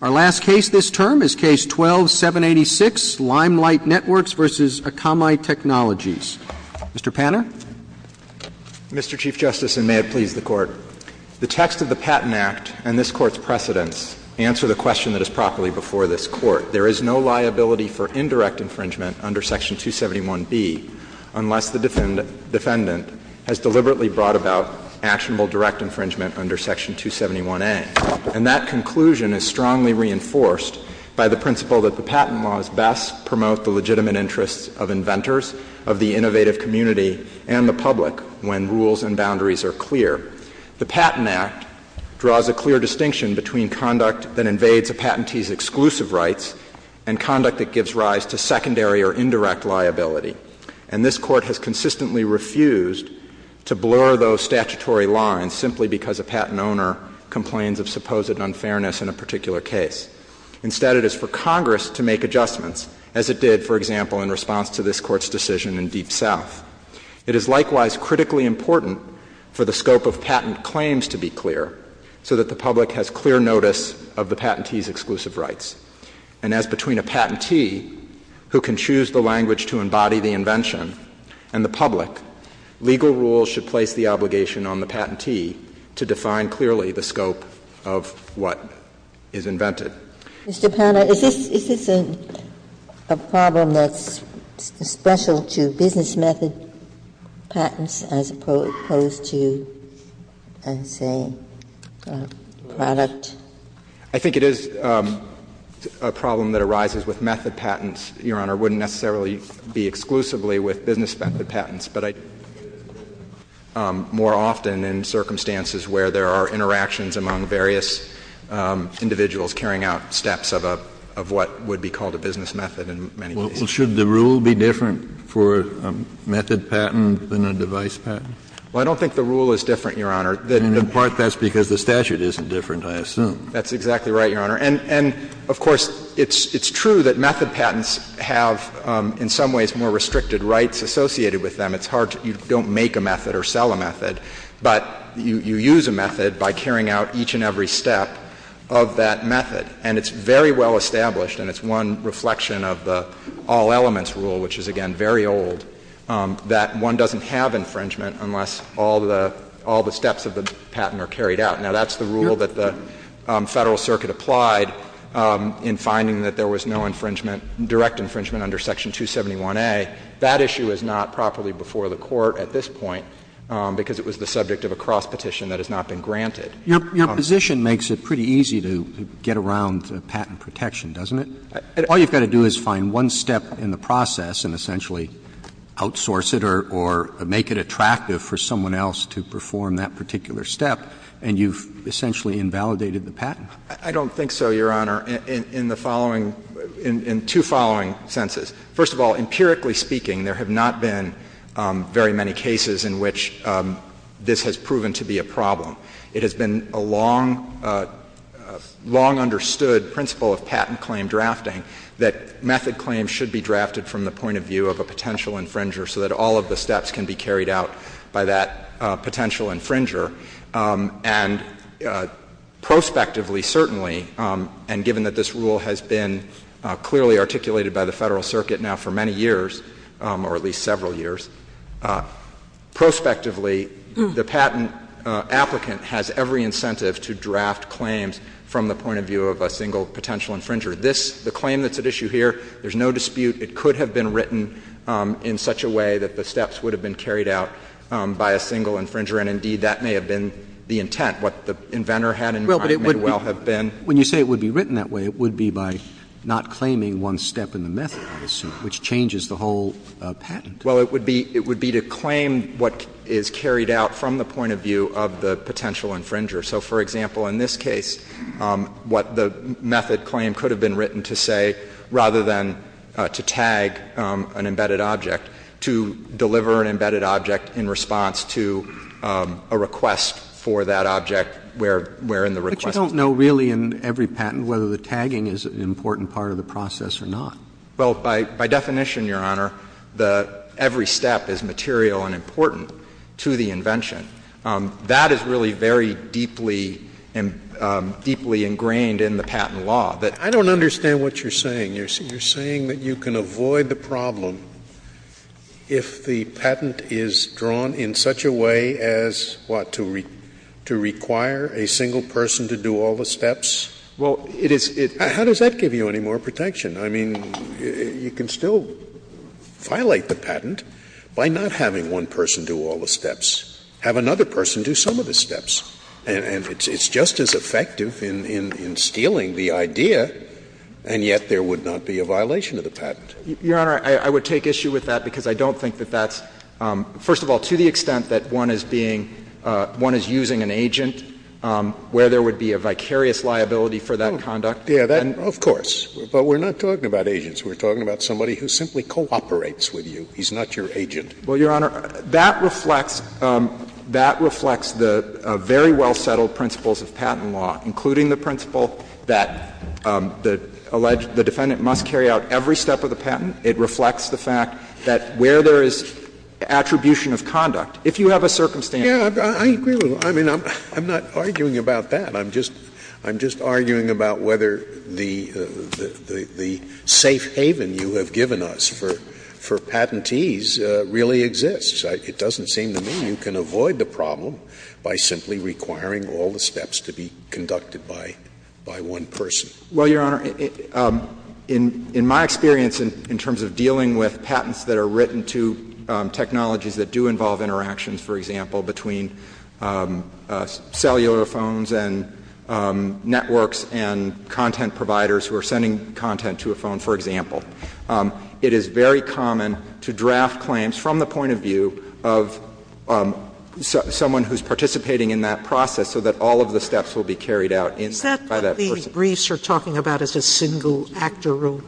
Our last case this term is Case 12-786, Limelight Networks v. Akamai Technologies. Mr. Panner. Mr. Chief Justice, and may it please the Court. The text of the Patent Act and this Court's precedents answer the question that is properly before this Court. There is no liability for indirect infringement under Section 271B unless the defendant has deliberately brought about actionable direct infringement under Section 271A. And that conclusion is strongly reinforced by the principle that the patent laws best promote the legitimate interests of inventors, of the innovative community, and the public when rules and boundaries are clear. The Patent Act draws a clear distinction between conduct that invades a patentee's exclusive rights and conduct that gives rise to secondary or indirect liability. And this Court has consistently refused to blur those statutory lines simply because a patent owner complains of supposed unfairness in a particular case. Instead, it is for Congress to make adjustments as it did, for example, in response to this Court's decision in Deep South. It is likewise critically important for the scope of patent claims to be clear so that the public has clear notice of the patentee's exclusive rights. And as between a patentee who can choose the language to embody the invention and the public, legal rules should place the obligation on the patentee to define clearly the scope of what is invented. Ginsburg, is this a problem that's special to business method patents as opposed to, let's say, product? I think it is a problem that arises with method patents, Your Honor, wouldn't necessarily be exclusively with business method patents, but I think it is more often in circumstances where there are interactions among various individuals carrying out steps of a — of what would be called a business method in many cases. Well, should the rule be different for a method patent than a device patent? Well, I don't think the rule is different, Your Honor. In part, that's because the statute isn't different, I assume. That's exactly right, Your Honor. And of course, it's true that method patents have in some ways more restricted rights associated with them. It's hard to — you don't make a method or sell a method, but you use a method by carrying out each and every step of that method. And it's very well established, and it's one reflection of the all-elements rule, which is, again, very old, that one doesn't have infringement unless all the steps of the patent are carried out. Now, that's the rule that the Federal Circuit applied in finding that there was no infringement — direct infringement under Section 271A. That issue is not properly before the Court at this point because it was the subject of a cross-petition that has not been granted. Your position makes it pretty easy to get around patent protection, doesn't it? All you've got to do is find one step in the process and essentially outsource it or make it attractive for someone else to perform that particular step, and you've essentially invalidated the patent. I don't think so, Your Honor, in the following — in two following senses. First of all, empirically speaking, there have not been very many cases in which this has proven to be a problem. It has been a long — a long-understood principle of patent claim drafting that method claims should be drafted from the point of view of a potential infringer so that all of the steps can be carried out by that potential infringer. And prospectively, certainly, and given that this rule has been clearly articulated by the Federal Circuit now for many years, or at least several years, prospectively, the patent applicant has every incentive to draft claims from the point of view of a single potential infringer. This — the claim that's at issue here, there's no dispute it could have been written in such a way that the steps would have been carried out by a single infringer, and indeed, that may have been the intent. What the inventor had in mind may well have been — Well, but it would be — when you say it would be written that way, it would be by not claiming one step in the method, I assume, which changes the whole patent. Well, it would be — it would be to claim what is carried out from the point of view of the potential infringer. So for example, in this case, what the method claim could have been written to say rather than to tag an embedded object, to deliver an embedded object in response to a request for that object wherein the request was made. But you don't know really in every patent whether the tagging is an important part of the process or not. Well, by definition, Your Honor, the — every step is material and important to the invention. That is really very deeply — deeply ingrained in the patent law. But I don't understand what you're saying. You're saying that you can avoid the problem if the patent is drawn in such a way as, what, to require a single person to do all the steps? Well, it is — How does that give you any more protection? I mean, you can still violate the patent by not having one person do all the steps. Have another person do some of the steps. And it's just as effective in stealing the idea, and yet there would not be a violation of the patent. Your Honor, I would take issue with that because I don't think that that's — first of all, to the extent that one is being — one is using an agent where there would be a vicarious liability for that conduct. Yeah, that — of course. But we're not talking about agents. We're talking about somebody who simply cooperates with you. He's not your agent. Well, Your Honor, that reflects — that reflects the very well-settled principles of patent law, including the principle that the alleged — the defendant must carry out every step of the patent. It reflects the fact that where there is attribution of conduct, if you have a circumstance — Yeah, I agree with you. I mean, I'm not arguing about that. I'm just — I'm just arguing about whether the safe haven you have given us for — for a patent really exists. It doesn't seem to me you can avoid the problem by simply requiring all the steps to be conducted by — by one person. Well, Your Honor, in — in my experience in terms of dealing with patents that are written to technologies that do involve interactions, for example, between cellular phones and networks and content providers who are sending content to a phone, for example, it is very common to draft claims from the point of view of someone who's participating in that process so that all of the steps will be carried out in — by that person. Is that what the briefs are talking about as a single-actor rule?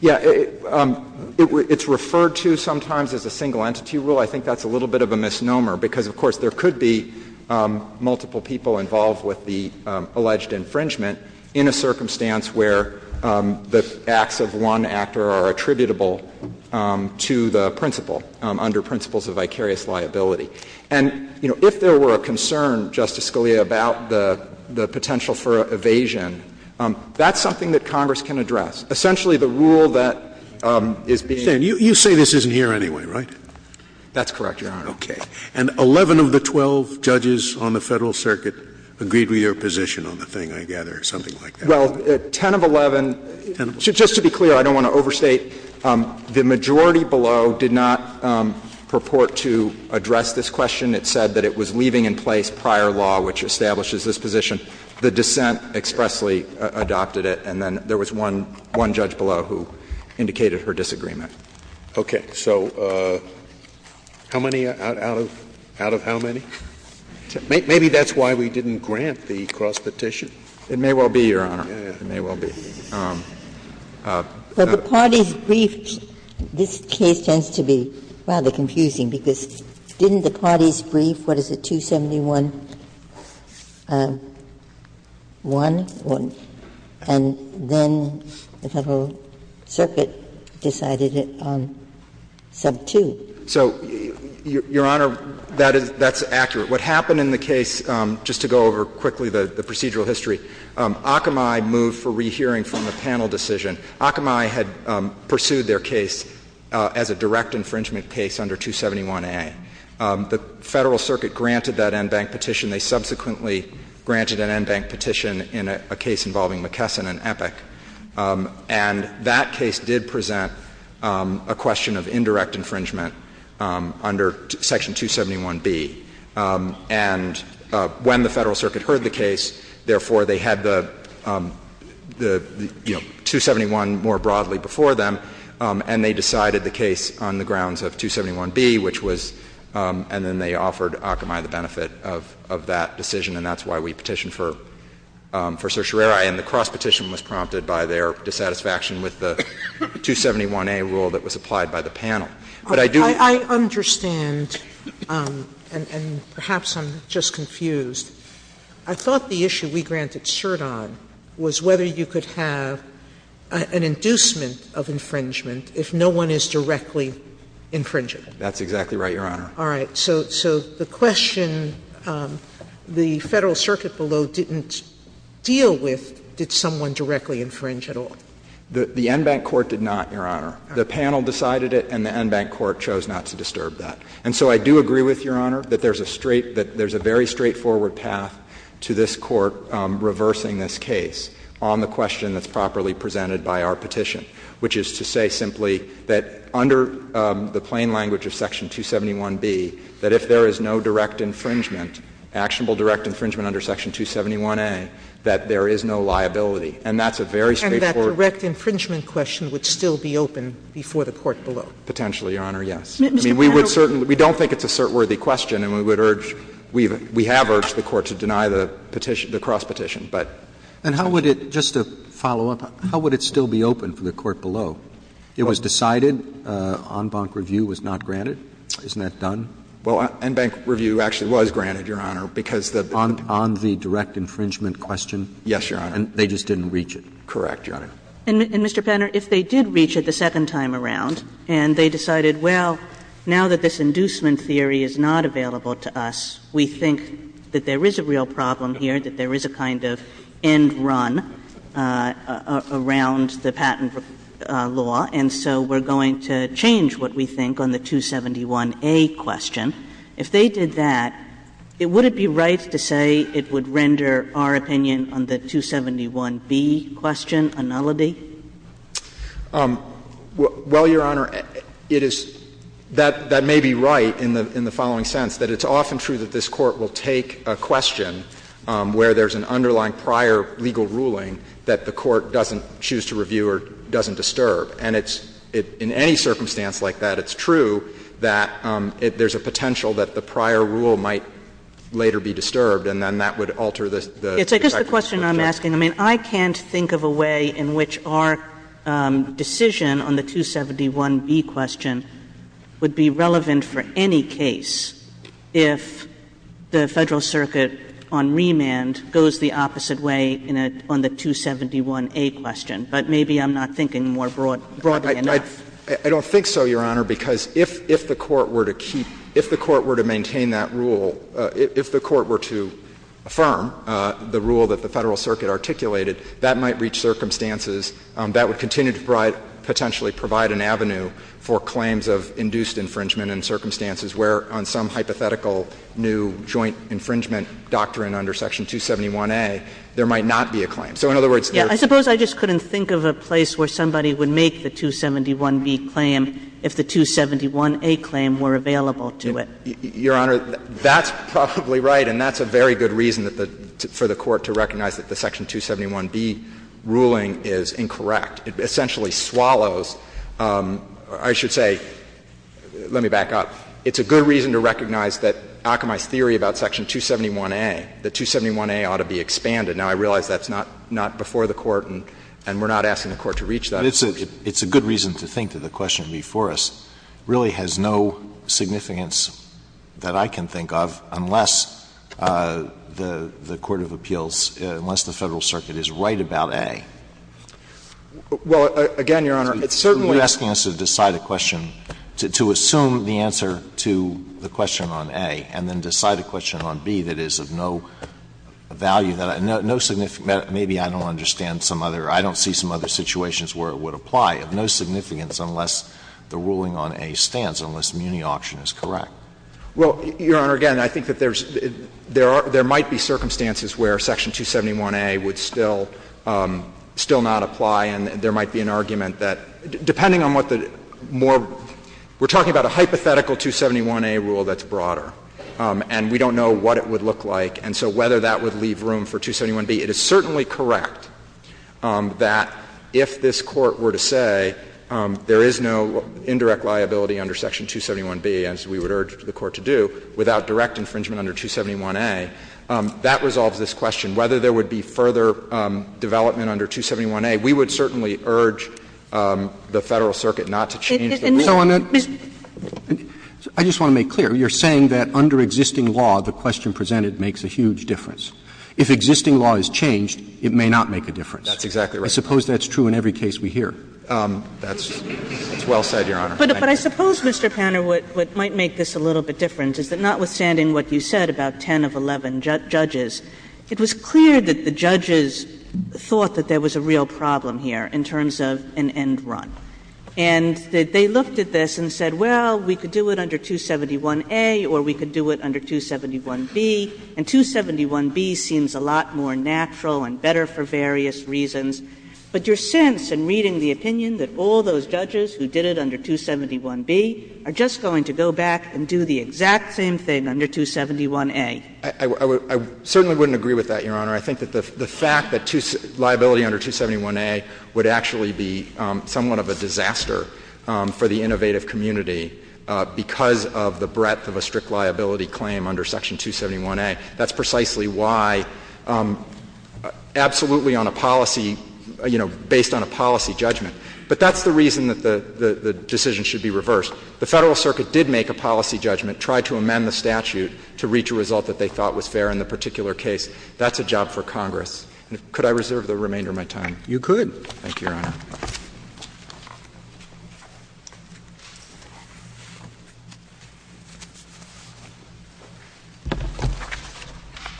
Yeah. It's referred to sometimes as a single-entity rule. I think that's a little bit of a misnomer, because, of course, there could be multiple people involved with the alleged infringement in a circumstance where the acts of one actor are attributable to the principal under principles of vicarious liability. And, you know, if there were a concern, Justice Scalia, about the — the potential for evasion, that's something that Congress can address. Essentially, the rule that is being — You say this isn't here anyway, right? That's correct, Your Honor. Okay. And 11 of the 12 judges on the Federal Circuit agreed with your position on the thing, Well, 10 of 11 — 10 of 11. Just to be clear, I don't want to overstate, the majority below did not purport to address this question. It said that it was leaving in place prior law which establishes this position. The dissent expressly adopted it, and then there was one — one judge below who indicated her disagreement. Okay. So how many out of — out of how many? Maybe that's why we didn't grant the cross-petition. It may well be, Your Honor. It may well be. But the parties briefed — this case tends to be rather confusing, because didn't the parties brief, what is it, 271-1, and then the Federal Circuit decided it on sub-2? So, Your Honor, that is — that's accurate. What happened in the case, just to go over quickly the procedural history, Akamai moved for rehearing from the panel decision. Akamai had pursued their case as a direct infringement case under 271a. The Federal Circuit granted that en banc petition. They subsequently granted an en banc petition in a case involving McKesson and Epic. And that case did present a question of indirect infringement under Section 271b. And when the Federal Circuit heard the case, therefore, they had the — the, you know, 271 more broadly before them, and they decided the case on the grounds of 271b, which was — and then they offered Akamai the benefit of — of that decision, and that's why we petitioned for — for certiorari. And the cross-petition was prompted by their dissatisfaction with the 271a rule that was applied by the panel. But I do — Sotomayor, I don't understand, and perhaps I'm just confused. I thought the issue we granted cert on was whether you could have an inducement of infringement if no one is directly infringing it. That's exactly right, Your Honor. All right. So — so the question the Federal Circuit below didn't deal with, did someone directly infringe at all? The — the en banc court did not, Your Honor. The panel decided it, and the en banc court chose not to disturb that. And so I do agree with Your Honor that there's a straight — that there's a very straightforward path to this Court reversing this case on the question that's properly presented by our petition, which is to say simply that under the plain language of Section 271b, that if there is no direct infringement, actionable direct infringement under Section 271a, that there is no liability. And that's a very straightforward — And that direct infringement question would still be open before the Court below? Potentially, Your Honor, yes. I mean, we would certainly — we don't think it's a cert-worthy question, and we would urge — we have urged the Court to deny the cross-petition, but — And how would it — just to follow up, how would it still be open for the Court below? It was decided, en banc review was not granted. Isn't that done? Well, en banc review actually was granted, Your Honor, because the — On the direct infringement question? Yes, Your Honor. And they just didn't reach it? Correct, Your Honor. And, Mr. Penner, if they did reach it the second time around, and they decided, well, now that this inducement theory is not available to us, we think that there is a real problem here, that there is a kind of end run around the patent law, and so we're going to change what we think on the 271a question, if they did that, would it be right to say it would render our opinion on the 271b question a nullity? Well, Your Honor, it is — that may be right in the following sense, that it's often true that this Court will take a question where there's an underlying prior legal ruling that the Court doesn't choose to review or doesn't disturb. And it's — in any circumstance like that, it's true that there's a potential that the prior rule might later be disturbed, and then that would alter the effect of the judgment. But I guess the question I'm asking, I mean, I can't think of a way in which our decision on the 271b question would be relevant for any case if the Federal Circuit on remand goes the opposite way in a — on the 271a question. But maybe I'm not thinking more broadly enough. I don't think so, Your Honor, because if — if the Court were to keep — if the Court were to maintain that rule, if the Court were to affirm the rule that the Federal Circuit articulated, that might reach circumstances that would continue to provide — potentially provide an avenue for claims of induced infringement in circumstances where on some hypothetical new joint infringement doctrine under Section 271a, there might not be a claim. So in other words, there's — Yeah. I suppose I just couldn't think of a place where somebody would make the 271b claim if the 271a claim were available to it. Your Honor, that's probably right, and that's a very good reason for the Court to recognize that the Section 271b ruling is incorrect. It essentially swallows — I should say — let me back up. It's a good reason to recognize that Akamai's theory about Section 271a, that 271a ought to be expanded. Now, I realize that's not — not before the Court, and we're not asking the Court to reach that. But it's a good reason to think that the question before us really has no significance that I can think of unless the court of appeals, unless the Federal Circuit is right about a. Well, again, Your Honor, it's certainly — You're asking us to decide a question, to assume the answer to the question on a, and then decide a question on b that is of no value, no significant Maybe I don't understand some other — I don't see some other situations where it would apply of no significance unless the ruling on a stands, unless Muni Auction is correct. Well, Your Honor, again, I think that there's — there are — there might be circumstances where Section 271a would still — still not apply, and there might be an argument that, depending on what the more — we're talking about a hypothetical 271a rule that's broader, and we don't know what it would look like. And so whether that would leave room for 271b, it is certainly correct that if this Court were to say there is no indirect liability under Section 271b, as we would urge the Court to do, without direct infringement under 271a, that resolves this question. Whether there would be further development under 271a, we would certainly urge the Federal Circuit not to change the ruling. And so on that — I just want to make clear, you're saying that under existing law, the question presented makes a huge difference. If existing law is changed, it may not make a difference. That's exactly right. I suppose that's true in every case we hear. That's well said, Your Honor. But I suppose, Mr. Panner, what might make this a little bit different is that not withstanding what you said about 10 of 11 judges, it was clear that the judges thought that there was a real problem here in terms of an end run. And they looked at this and said, well, we could do it under 271a, or we could do it under 271b, and 271b seems a lot more natural and better for various reasons. But your sense in reading the opinion that all those judges who did it under 271b are just going to go back and do the exact same thing under 271a? I would — I certainly wouldn't agree with that, Your Honor. I think that the fact that liability under 271a would actually be somewhat of a disaster for the innovative community because of the breadth of a strict liability claim under section 271a, that's precisely why absolutely on a policy — you know, based on a policy judgment. But that's the reason that the decision should be reversed. The Federal Circuit did make a policy judgment, tried to amend the statute to reach a result that they thought was fair in the particular case. That's a job for Congress. You could. Thank you, Your Honor.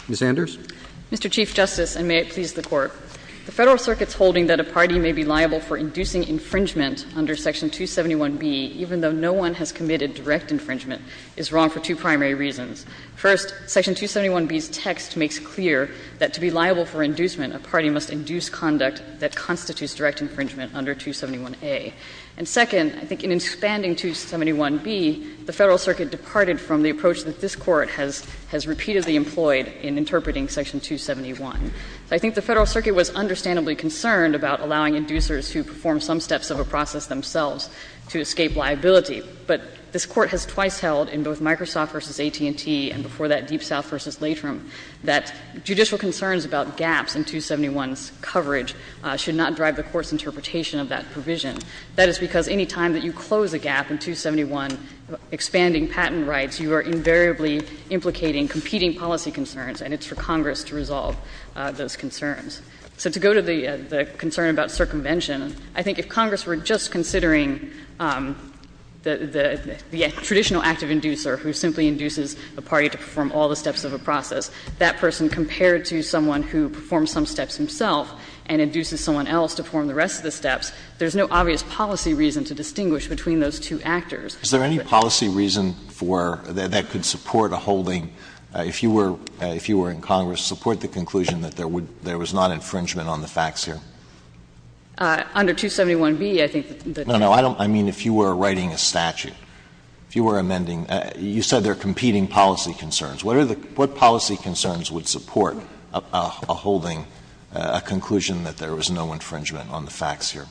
Ms. Anders. Mr. Chief Justice, and may it please the Court. The Federal Circuit's holding that a party may be liable for inducing infringement under section 271b, even though no one has committed direct infringement, is wrong for two primary reasons. First, section 271b's text makes clear that to be liable for inducement, a party must induce conduct that constitutes direct infringement under 271a. And second, I think in expanding 271b, the Federal Circuit departed from the approach that this Court has — has repeatedly employed in interpreting section 271. I think the Federal Circuit was understandably concerned about allowing inducers who perform some steps of a process themselves to escape liability. But this Court has twice held in both Microsoft v. AT&T and before that, Deep South v. Latrim, that judicial concerns about gaps in 271's coverage should not drive the Court's interpretation of that provision. That is because any time that you close a gap in 271, expanding patent rights, you are invariably implicating competing policy concerns, and it's for Congress to resolve those concerns. So to go to the concern about circumvention, I think if Congress were just considering the traditional active inducer who simply induces a party to perform all the steps of a process, that person compared to someone who performs some steps himself and induces someone else to perform the rest of the steps, there's no obvious policy reason to distinguish between those two actors. Alito Is there any policy reason for — that could support a holding, if you were — if you were in Congress, support the conclusion that there would — there was not infringement on the facts here? Under 271b, I think the — No, no. I don't — I mean if you were writing a statute, if you were amending — you said there are competing policy concerns. What are the — what policy concerns would support a holding, a conclusion that there was no infringement on the facts here?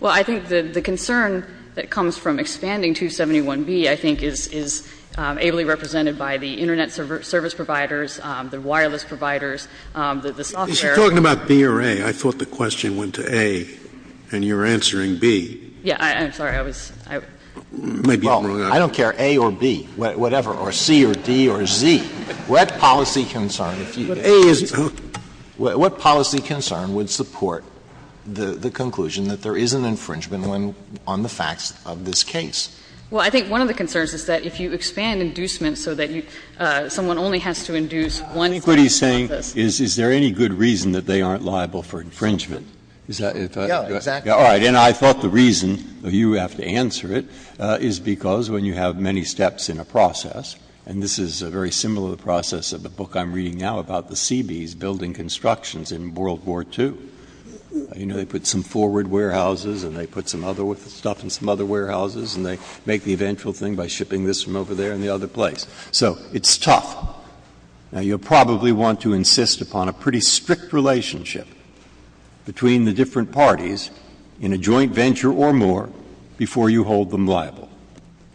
Well, I think the concern that comes from expanding 271b, I think, is ably represented by the Internet service providers, the wireless providers, the software. Scalia Is she talking about b or a? I thought the question went to a, and you're answering b. Yeah. I'm sorry. I was — I may be wrong on that. Well, I don't care, a or b, whatever, or c or d or z. What policy concern, if you — a, is — what policy concern would support the conclusion that there is an infringement when — on the facts of this case? Well, I think one of the concerns is that if you expand inducement so that you — someone only has to induce one sentence on this. I think what he's saying is, is there any good reason that they aren't liable for infringement? Is that if a — Yeah, exactly. All right. And I thought the reason you have to answer it is because when you have many steps in a process, and this is very similar to the process of the book I'm reading now about the Seabees building constructions in World War II, you know, they put some forward warehouses and they put some other stuff in some other warehouses and they make the eventual thing by shipping this from over there and the other place. So it's tough. Now, you'll probably want to insist upon a pretty strict relationship between the different parties in a joint venture or more before you hold them liable.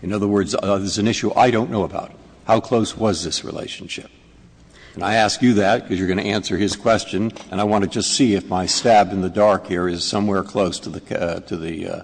In other words, there's an issue I don't know about. How close was this relationship? And I ask you that because you're going to answer his question, and I want to just see if my stab in the dark here is somewhere close to the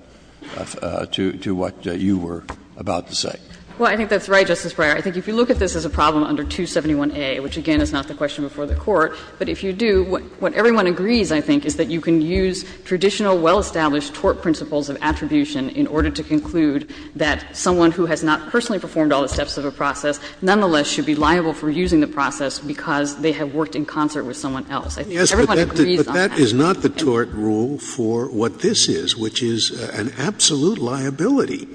— to what you were about to say. Well, I think that's right, Justice Breyer. I think if you look at this as a problem under 271A, which again is not the question before the Court, but if you do, what everyone agrees, I think, is that you can use traditional, well-established tort principles of attribution in order to conclude that someone who has not personally performed all the steps of a process nonetheless should be liable for using the process because they have worked in concert with someone else. I think everyone agrees on that. Scalia. But that is not the tort rule for what this is, which is an absolute liability.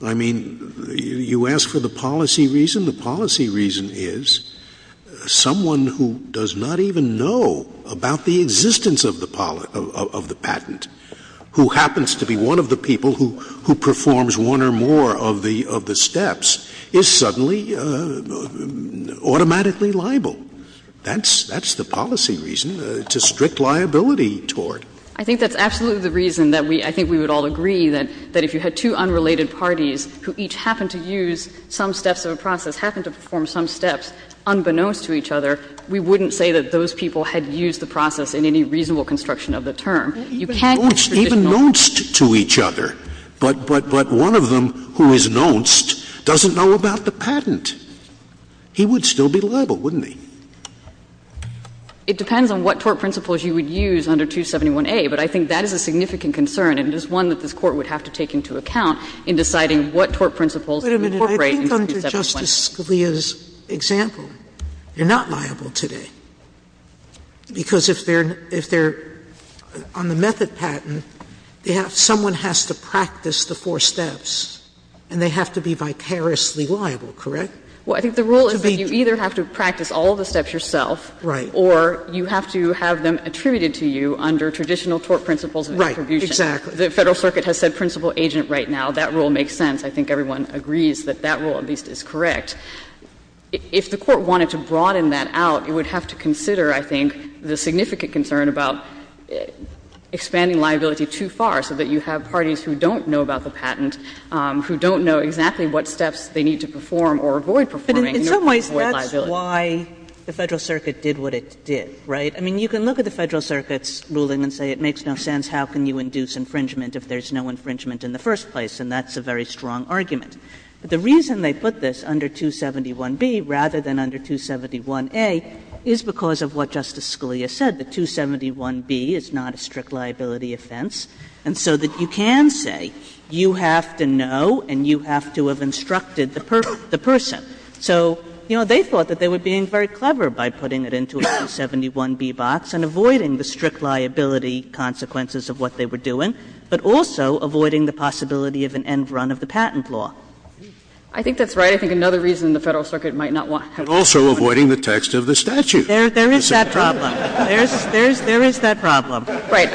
I mean, you ask for the policy reason. The policy reason is someone who does not even know about the existence of the patent, who happens to be one of the people who performs one or more of the steps, is suddenly automatically liable. That's the policy reason. It's a strict liability tort. I think that's absolutely the reason that we — I think we would all agree that if you had two unrelated parties who each happened to use some steps of a process, happened to perform some steps unbeknownst to each other, we wouldn't say that those people had used the process in any reasonable construction of the term. You can't use traditional rules. Scalia, even nonced to each other, but one of them who is nonced doesn't know about the patent. He would still be liable, wouldn't he? It depends on what tort principles you would use under 271A, but I think that is a significant concern, and it is one that this Court would have to take into account in deciding what tort principles to incorporate in 271A. Wait a minute. I think under Justice Scalia's example, you're not liable today, because if they're on the method patent, they have — someone has to practice the four steps, and they have to be vicariously liable, correct? Well, I think the rule is that you either have to practice all of the steps yourself or you have to have them attributed to you under traditional tort principles of attribution. Right. Exactly. The Federal Circuit has said principal agent right now. That rule makes sense. I think everyone agrees that that rule at least is correct. If the Court wanted to broaden that out, it would have to consider, I think, the significant concern about expanding liability too far so that you have parties who don't know about the patent, who don't know exactly what steps they need to perform or avoid performing. But in some ways, that's why the Federal Circuit did what it did, right? I mean, you can look at the Federal Circuit's ruling and say it makes no sense. How can you induce infringement if there's no infringement in the first place? And that's a very strong argument. But the reason they put this under 271B rather than under 271A is because of what Justice Scalia said, that 271B is not a strict liability offense, and so that you can say you have to know and you have to have instructed the person. So, you know, they thought that they were being very clever by putting it into a 271B box and avoiding the strict liability consequences of what they were doing, but also avoiding the possibility of an end run of the patent law. I think that's right. I think another reason the Federal Circuit might not want to have it. Also avoiding the text of the statute. There is that problem. There is that problem. Right.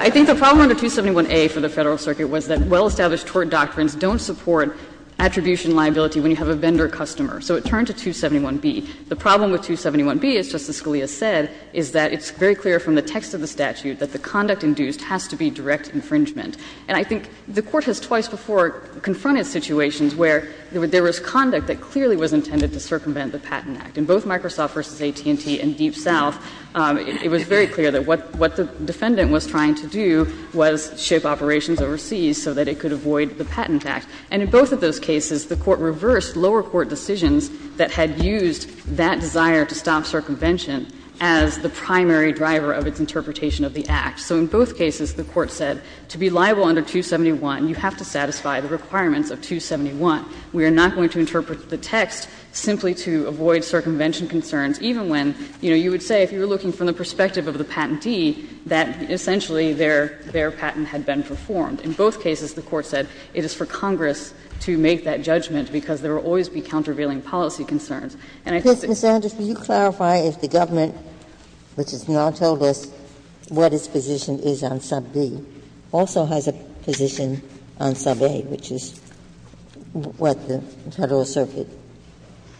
I think the problem under 271A for the Federal Circuit was that well-established tort doctrines don't support attribution liability when you have a vendor-customer. So it turned to 271B. The problem with 271B, as Justice Scalia said, is that it's very clear from the text of the statute that the conduct induced has to be direct infringement. And I think the Court has twice before confronted situations where there was conduct that clearly was intended to circumvent the Patent Act. In both Microsoft v. AT&T and Deep South, it was very clear that what the defendant was trying to do was ship operations overseas so that it could avoid the Patent Act. And in both of those cases, the Court reversed lower court decisions that had used that desire to stop circumvention as the primary driver of its interpretation of the Act. So in both cases, the Court said to be liable under 271, you have to satisfy the requirements of 271. We are not going to interpret the text simply to avoid circumvention concerns, even when, you know, you would say if you were looking from the perspective of the patentee that essentially their patent had been performed. In both cases, the Court said it is for Congress to make that judgment because there will always be countervailing policy concerns. And I think that's the case. Ginsburg. Ginsburg. Ms. Anders, will you clarify if the government, which has now told us what its position is on sub B, also has a position on sub A, which is what the Federal Circuit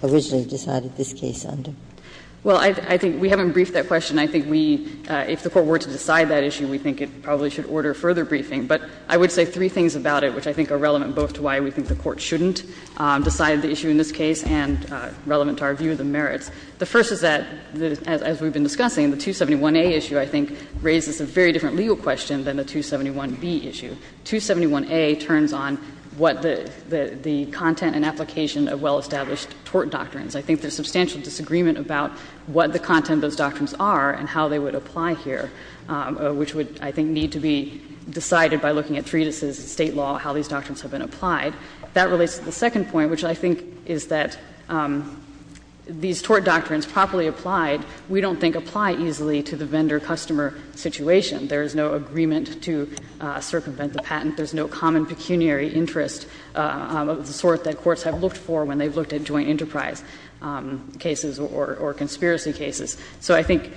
originally decided this case under? Well, I think we haven't briefed that question. I think we, if the Court were to decide that issue, we think it probably should order further briefing. But I would say three things about it which I think are relevant both to why we think the Court shouldn't decide the issue in this case and relevant to our view of the merits. The first is that, as we've been discussing, the 271A issue, I think, raises a very different legal question than the 271B issue. 271A turns on what the content and application of well-established tort doctrines. I think there's substantial disagreement about what the content of those doctrines are and how they would apply here, which would, I think, need to be decided by looking at treatises, State law, how these doctrines have been applied. That relates to the second point, which I think is that these tort doctrines properly applied, we don't think apply easily to the vendor-customer situation. There is no agreement to circumvent the patent. There's no common pecuniary interest of the sort that courts have looked for when they've looked at joint enterprise cases or conspiracy cases. So I think,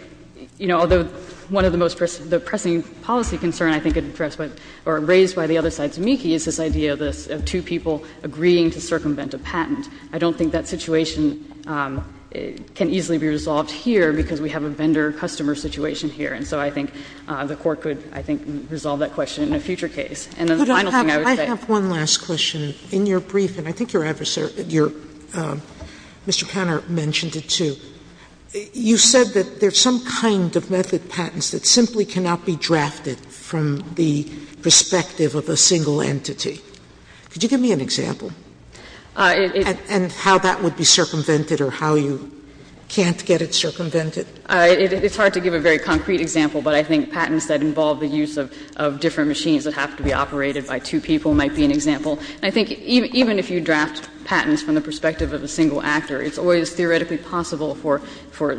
you know, although one of the most pressing policy concerns, I think, addressed by or raised by the other side's amici is this idea of two people agreeing to circumvent a patent. I don't think that situation can easily be resolved here because we have a vendor-customer situation here. And so I think the Court could, I think, resolve that question in a future case. And then the final thing I would say is that Sotomayor I have one last question. In your briefing, I think your adversary, your Mr. Panner, mentioned it, too. You said that there's some kind of method patents that simply cannot be drafted from the perspective of a single entity. Could you give me an example? And how that would be circumvented or how you can't get it circumvented? It's hard to give a very concrete example, but I think patents that involve the use of different machines that have to be operated by two people might be an example. And I think even if you draft patents from the perspective of a single actor, it's always theoretically possible for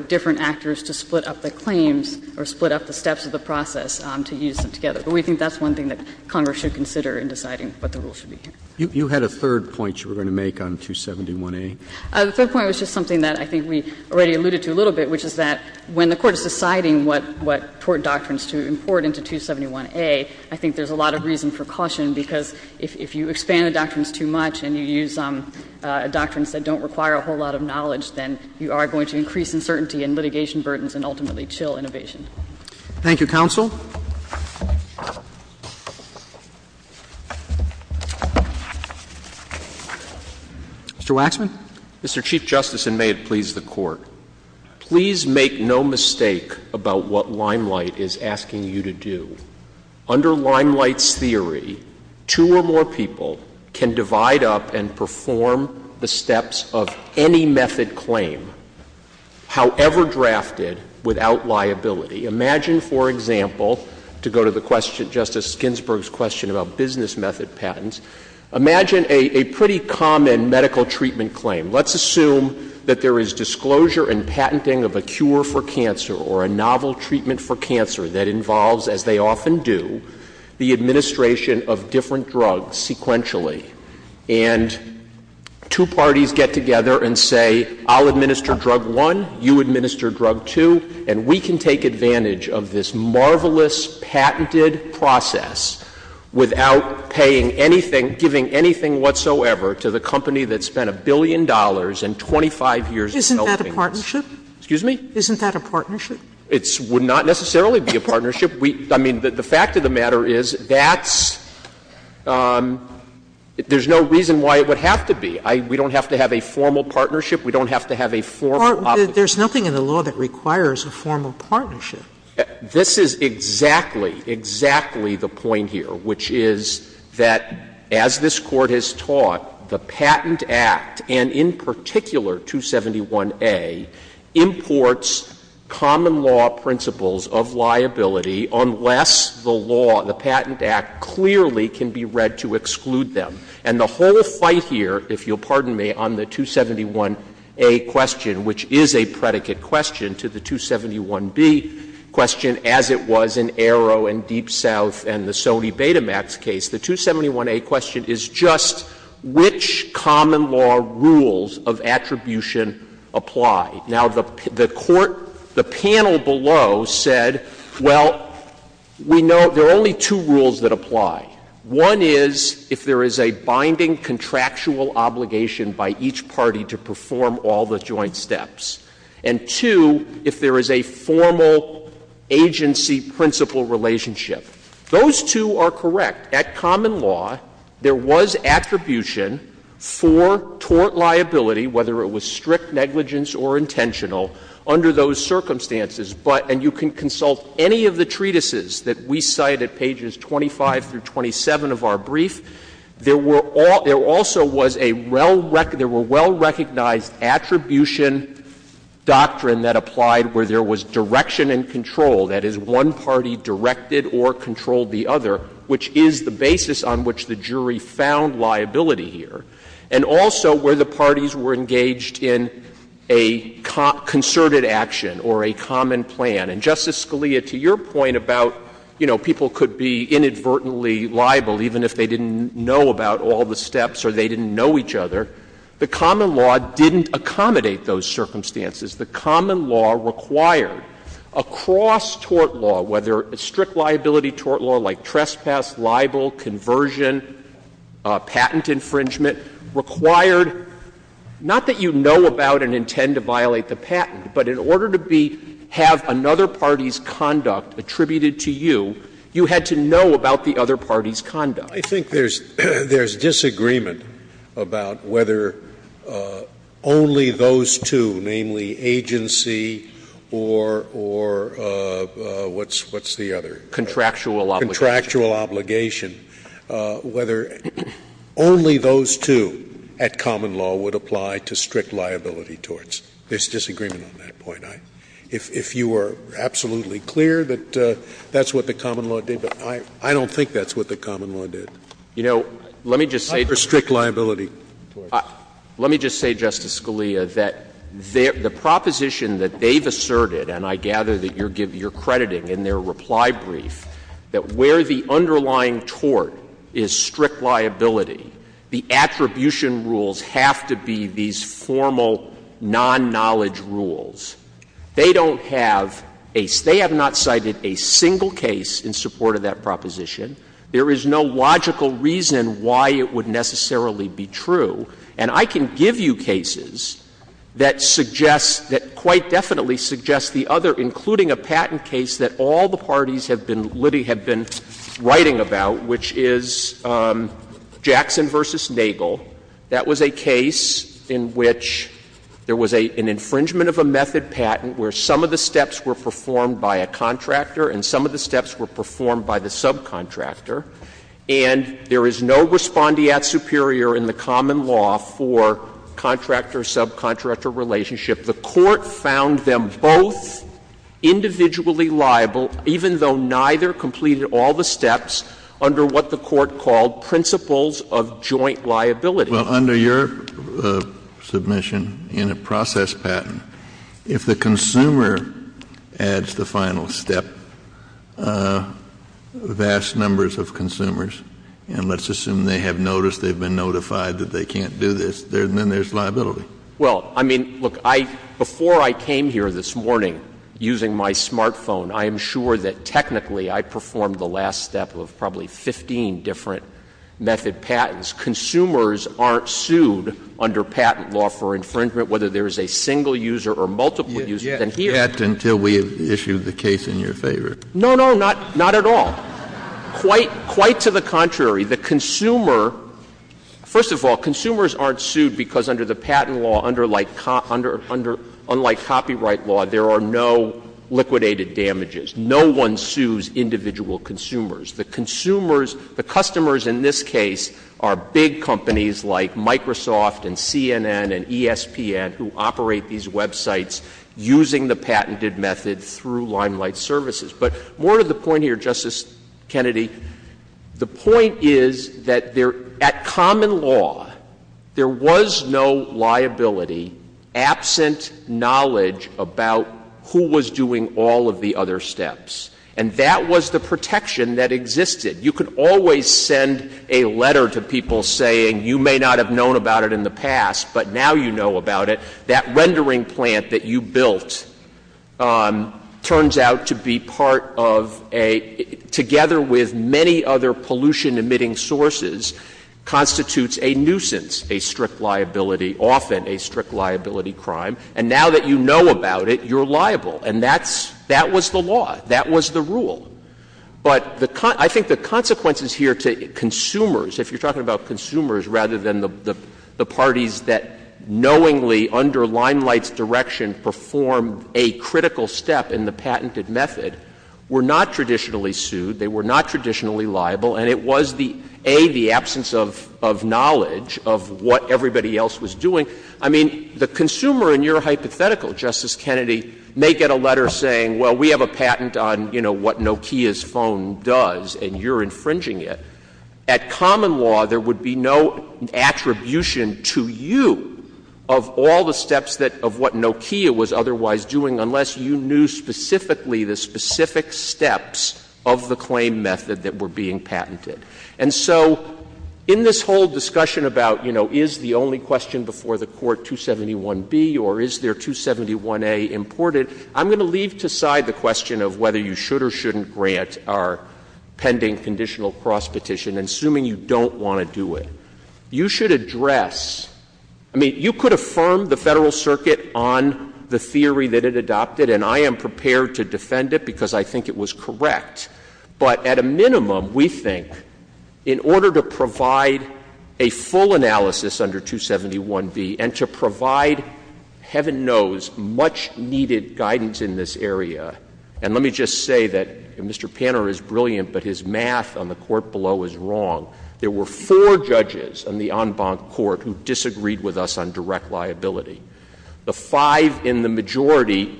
different actors to split up the claims or split up the steps of the process to use them together. But we think that's one thing that Congress should consider in deciding what the rule should be here. You had a third point you were going to make on 271A. The third point was just something that I think we already alluded to a little bit, which is that when the Court is deciding what tort doctrines to import into 271A, I think there's a lot of reason for caution, because if you expand the doctrines too much and you use doctrines that don't require a whole lot of knowledge, then you are going to increase uncertainty and litigation burdens and ultimately chill innovation. Thank you, counsel. Mr. Waxman. Mr. Chief Justice, and may it please the Court. Please make no mistake about what Limelight is asking you to do. Under Limelight's theory, two or more people can divide up and perform the steps of any method claim, however drafted, without liability. Imagine, for example, to go to the question, Justice Ginsburg's question about business method patents, imagine a pretty common medical treatment claim. Let's assume that there is disclosure and patenting of a cure for cancer or a novel treatment for cancer that involves, as they often do, the administration of different drugs sequentially. And two parties get together and say, I'll administer drug one, you administer drug two, and we can take advantage of this marvelous patented process without paying anything, giving anything whatsoever to the company that spent a billion dollars and 25 years of helping us. Sotomayor, isn't that a partnership? Excuse me? Isn't that a partnership? It would not necessarily be a partnership. I mean, the fact of the matter is that's — there's no reason why it would have to be. We don't have to have a formal partnership. We don't have to have a formal obligation. There's nothing in the law that requires a formal partnership. This is exactly, exactly the point here, which is that as this Court has taught, the Patent Act, and in particular 271A, imports common law principles of liability unless the law, the Patent Act, clearly can be read to exclude them. And the whole fight here, if you'll pardon me, on the 271A question, which is a predicate question to the 271B question, as it was in Aero and Deep South and the Sony Betamax case, the 271A question is just which common law rules of attribution apply. Now, the Court, the panel below said, well, we know there are only two rules that apply. One is if there is a binding contractual obligation by each party to perform all the joint steps, and two, if there is a formal agency-principal relationship. Those two are correct. At common law, there was attribution for tort liability, whether it was strict negligence or intentional, under those circumstances. But you can consult any of the treatises that we cite at pages 25 through 27 of our brief. There were also was a well-recognized attribution doctrine that applied where there was direction and control, that is, one party directed or controlled the other, which is the basis on which the jury found liability here, and also where the parties were engaged in a concerted action or a common plan. And, Justice Scalia, to your point about, you know, people could be inadvertently liable even if they didn't know about all the steps or they didn't know each other, the common law didn't accommodate those circumstances. The common law required, across tort law, whether it's strict liability tort law like trespass, libel, conversion, patent infringement, required not that you know about and intend to violate the patent, but in order to be — have another party's conduct attributed to you, you had to know about the other party's conduct. Scalia. I think there's disagreement about whether only those two, namely agency or what's the other? Contractual obligation. Contractual obligation. Whether only those two at common law would apply to strict liability torts. There's disagreement on that point. If you are absolutely clear that that's what the common law did, but I don't think that's what the common law did. You know, let me just say to you. Not for strict liability torts. Let me just say, Justice Scalia, that the proposition that they've asserted, and I gather that you're crediting in their reply brief, that where the underlying tort is strict liability, the attribution rules have to be these formal non-knowledge rules. They don't have a — they have not cited a single case in support of that proposition There is no logical reason why it would necessarily be true. And I can give you cases that suggest, that quite definitely suggest the other, including a patent case that all the parties have been writing about, which is Jackson v. Nagel. That was a case in which there was an infringement of a method patent where some of the steps were performed by a contractor and some of the steps were performed by the subcontractor. And there is no respondeat superior in the common law for contractor-subcontractor relationship. The Court found them both individually liable, even though neither completed all the steps under what the Court called principles of joint liability. Well, under your submission, in a process patent, if the consumer adds the final step, vast numbers of consumers, and let's assume they have noticed, they've been notified that they can't do this, then there's liability. Well, I mean, look, I — before I came here this morning using my smartphone, I am sure that technically I performed the last step of probably 15 different method patents. Consumers aren't sued under patent law for infringement, whether there is a single user or multiple users. And here — You haven't yet until we have issued the case in your favor. No, no, not — not at all. Quite — quite to the contrary. The consumer — first of all, consumers aren't sued because under the patent law, under — unlike copyright law, there are no liquidated damages. No one sues individual consumers. The consumers — the customers in this case are big companies like Microsoft and CNN and ESPN, who operate these websites using the patented method through Limelight Services. But more to the point here, Justice Kennedy, the point is that there — at common law, there was no liability absent knowledge about who was doing all of the other steps. And that was the protection that existed. You could always send a letter to people saying, you may not have known about it in the past, but now you know about it. That rendering plant that you built turns out to be part of a — together with many other pollution-emitting sources constitutes a nuisance, a strict liability, often a strict liability crime. And now that you know about it, you're liable. And that's — that was the law. That was the rule. But the — I think the consequences here to consumers, if you're talking about consumers rather than the parties that knowingly, under Limelight's direction, performed a critical step in the patented method, were not traditionally sued. They were not traditionally liable. And it was the — A, the absence of knowledge of what everybody else was doing. I mean, the consumer in your hypothetical, Justice Kennedy, may get a letter saying, well, we have a patent on, you know, what Nokia's phone does, and you're infringing it. At common law, there would be no attribution to you of all the steps that — of what Nokia was otherwise doing, unless you knew specifically the specific steps of the claim method that were being patented. And so in this whole discussion about, you know, is the only question before the question of whether you should or shouldn't grant our pending conditional cross petition, assuming you don't want to do it, you should address — I mean, you could affirm the Federal Circuit on the theory that it adopted, and I am prepared to defend it, because I think it was correct. But at a minimum, we think, in order to provide a full analysis under 271B and to say that Mr. Panner is brilliant, but his math on the court below is wrong, there were four judges on the en banc court who disagreed with us on direct liability. The five in the majority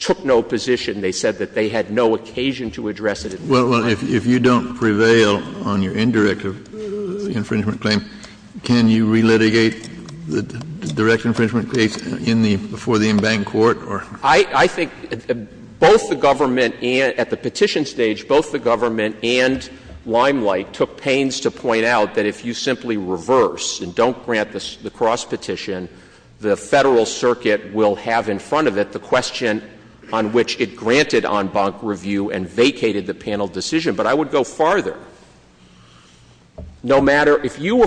took no position. They said that they had no occasion to address it at this time. Kennedy, if you don't prevail on your indirect infringement claim, can you re-litigate the direct infringement case in the — before the en banc court, or? I think both the government and — at the petition stage, both the government and Limelight took pains to point out that if you simply reverse and don't grant the cross petition, the Federal Circuit will have in front of it the question on which it granted en banc review and vacated the panel decision. But I would go farther. No matter — if you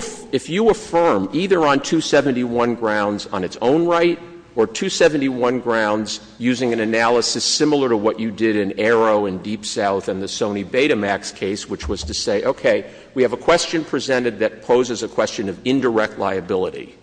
affirm, either on 271 grounds on its own right or 271 grounds using an analysis similar to what you did in Arrow and Deep South and the Sony Betamax case, which was to say, okay, we have a question presented that poses a question of indirect liability.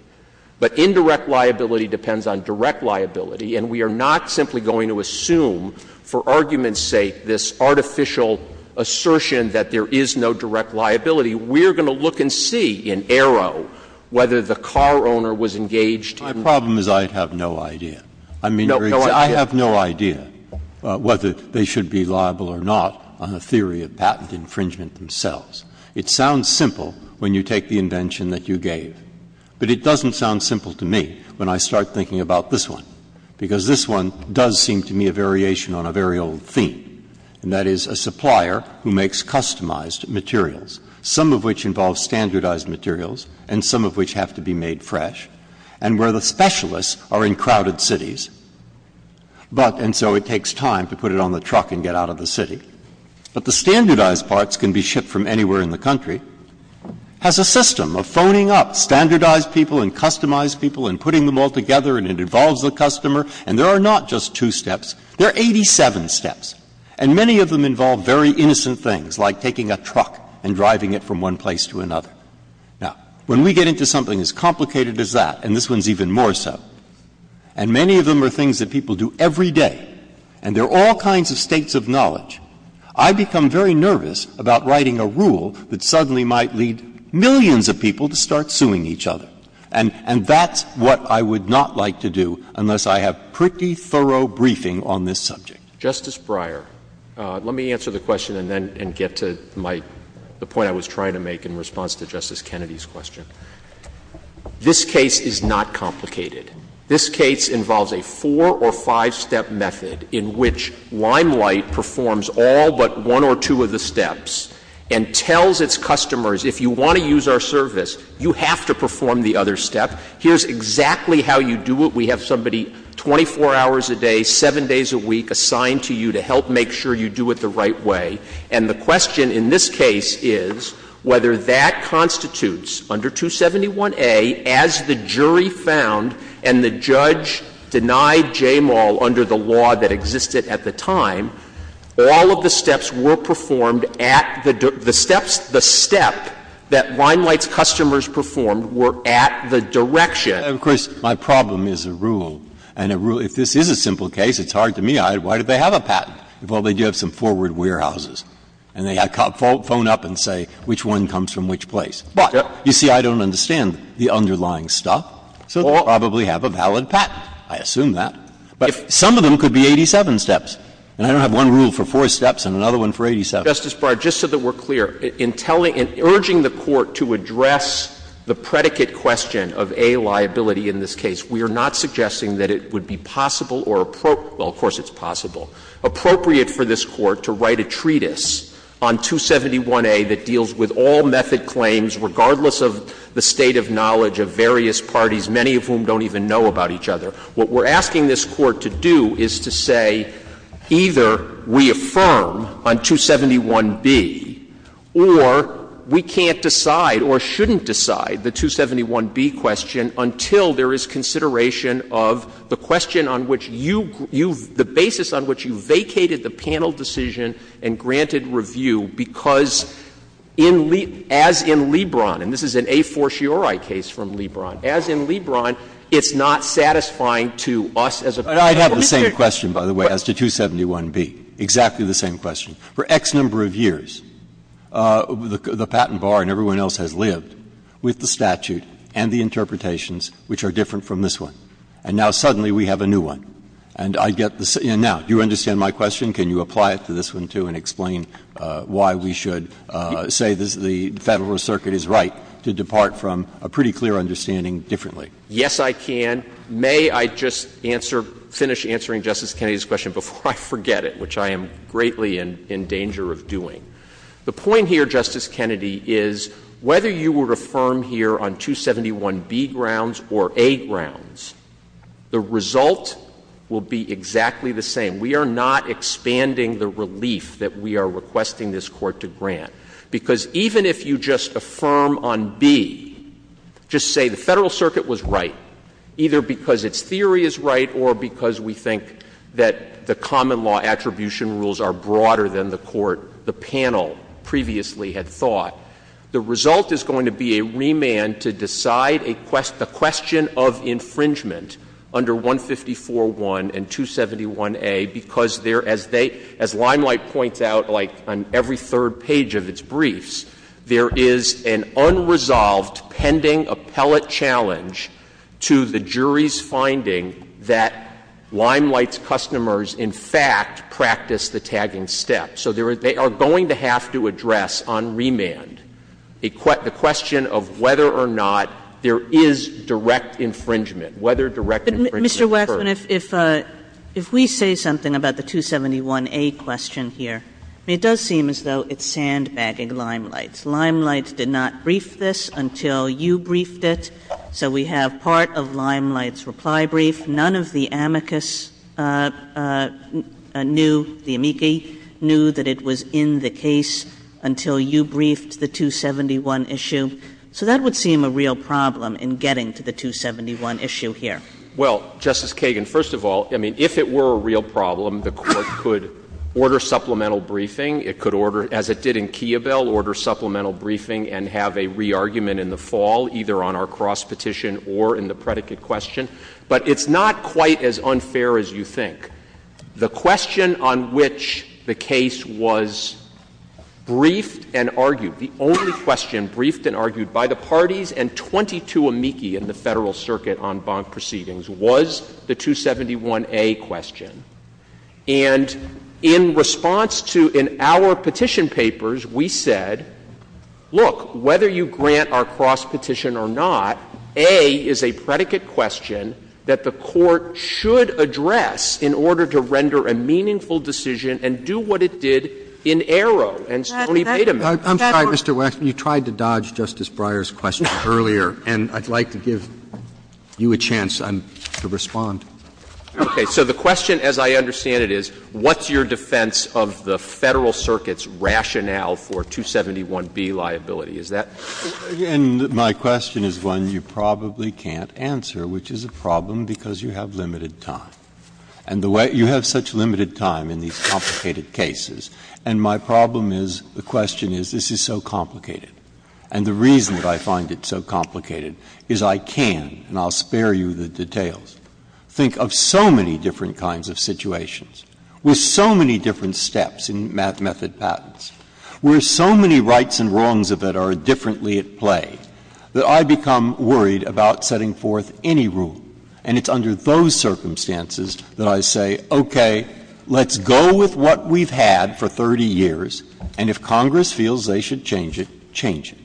But indirect liability depends on direct liability, and we are not simply going to assume, for argument's sake, this artificial assertion that there is no direct liability. We are going to look and see in Arrow whether the car owner was engaged in — My problem is I have no idea. I mean, I have no idea whether they should be liable or not on the theory of patent infringement themselves. It sounds simple when you take the invention that you gave, but it doesn't sound simple to me when I start thinking about this one, because this one does seem to me a variation on a very old theme, and that is a supplier who makes customized materials, some of which involve standardized materials and some of which have to be shipped from other cities, but — and so it takes time to put it on the truck and get out of the city. But the standardized parts can be shipped from anywhere in the country. It has a system of phoning up standardized people and customized people and putting them all together, and it involves the customer, and there are not just two steps. There are 87 steps, and many of them involve very innocent things, like taking a truck and driving it from one place to another. Now, when we get into something as complicated as that, and this one is even more complex than that, and many of them are things that people do every day, and there are all kinds of states of knowledge, I become very nervous about writing a rule that suddenly might lead millions of people to start suing each other. And that's what I would not like to do unless I have pretty thorough briefing on this subject. Roberts. Justice Breyer, let me answer the question and then get to my — the point I was trying to make in response to Justice Kennedy's question. This case is not complicated. This case involves a four- or five-step method in which Limelight performs all but one or two of the steps and tells its customers, if you want to use our service, you have to perform the other step. Here's exactly how you do it. We have somebody 24 hours a day, 7 days a week assigned to you to help make sure you do it the right way. And the question in this case is whether that constitutes, under 271A, as the jury found and the judge denied Jamal under the law that existed at the time, all of the steps were performed at the — the steps — the step that Limelight's customers performed were at the direction. And, of course, my problem is a rule, and a rule — if this is a simple case, it's hard to me. Why do they have a patent? Well, they do have some forward warehouses. And they phone up and say which one comes from which place. But, you see, I don't understand the underlying stuff, so they probably have a valid patent. I assume that. But some of them could be 87 steps. And I don't have one rule for four steps and another one for 87. Justice Breyer, just so that we're clear, in telling — in urging the Court to address the predicate question of A, liability in this case, we are not suggesting that it would be possible or — well, of course it's possible. Appropriate for this Court to write a treatise on 271A that deals with all method claims, regardless of the state of knowledge of various parties, many of whom don't even know about each other. What we're asking this Court to do is to say either we affirm on 271B or we can't decide or shouldn't decide the 271B question until there is consideration of the question on which you — the basis on which you vacated the panel decision and granted review, because in — as in Lebron, and this is an a fortiori case from Lebron, as in Lebron, it's not satisfying to us as a panel. Breyer, I'd have the same question, by the way, as to 271B, exactly the same question. For X number of years, the patent bar and everyone else has lived with the statute and the interpretations which are different from this one. And now, suddenly, we have a new one. And I get the — and now, do you understand my question? Can you apply it to this one, too, and explain why we should say the Federal Circuit is right to depart from a pretty clear understanding differently? Yes, I can. May I just answer — finish answering Justice Kennedy's question before I forget it, which I am greatly in danger of doing? The point here, Justice Kennedy, is whether you would affirm here on 271B grounds or A grounds, the result will be exactly the same. We are not expanding the relief that we are requesting this Court to grant, because even if you just affirm on B, just say the Federal Circuit was right, either because its theory is right or because we think that the common law attribution rules are broader than the Court, the panel, previously had thought, the result is going to be a remand to decide a question — the question of infringement under 154.1 and 271A, because there — as they — as Limelight points out, like, on every third page of its briefs, there is an unresolved pending appellate challenge to the jury's finding that Limelight's So they are going to have to address on remand the question of whether or not there is direct infringement, whether direct infringement occurs. But, Mr. Waxman, if we say something about the 271A question here, it does seem as though it's sandbagging Limelight. Limelight did not brief this until you briefed it, so we have part of Limelight's reply brief. None of the amicus knew — the amici knew that it was in the case until you briefed the 271 issue. So that would seem a real problem in getting to the 271 issue here. Well, Justice Kagan, first of all, I mean, if it were a real problem, the Court could order supplemental briefing. It could order, as it did in Kiobel, order supplemental briefing and have a re-argument in the fall, either on our cross-petition or in the predicate question. But it's not quite as unfair as you think. The question on which the case was briefed and argued, the only question briefed and argued by the parties and 22 amici in the Federal Circuit on bond proceedings was the 271A question. And in response to — in our petition papers, we said, look, whether you grant our predicate question that the Court should address in order to render a meaningful decision and do what it did in Aero and Stoney Payterman. I'm sorry, Mr. Wexler. You tried to dodge Justice Breyer's question earlier, and I'd like to give you a chance to respond. Okay. So the question, as I understand it, is what's your defense of the Federal Circuit's rationale for 271B liability? Is that? Breyer. And my question is one you probably can't answer, which is a problem because you have limited time. And the way — you have such limited time in these complicated cases. And my problem is, the question is, this is so complicated. And the reason that I find it so complicated is I can, and I'll spare you the details, think of so many different kinds of situations with so many different steps in method patents, where so many rights and wrongs of it are differently at play, that I become worried about setting forth any rule. And it's under those circumstances that I say, okay, let's go with what we've had for 30 years, and if Congress feels they should change it, change it.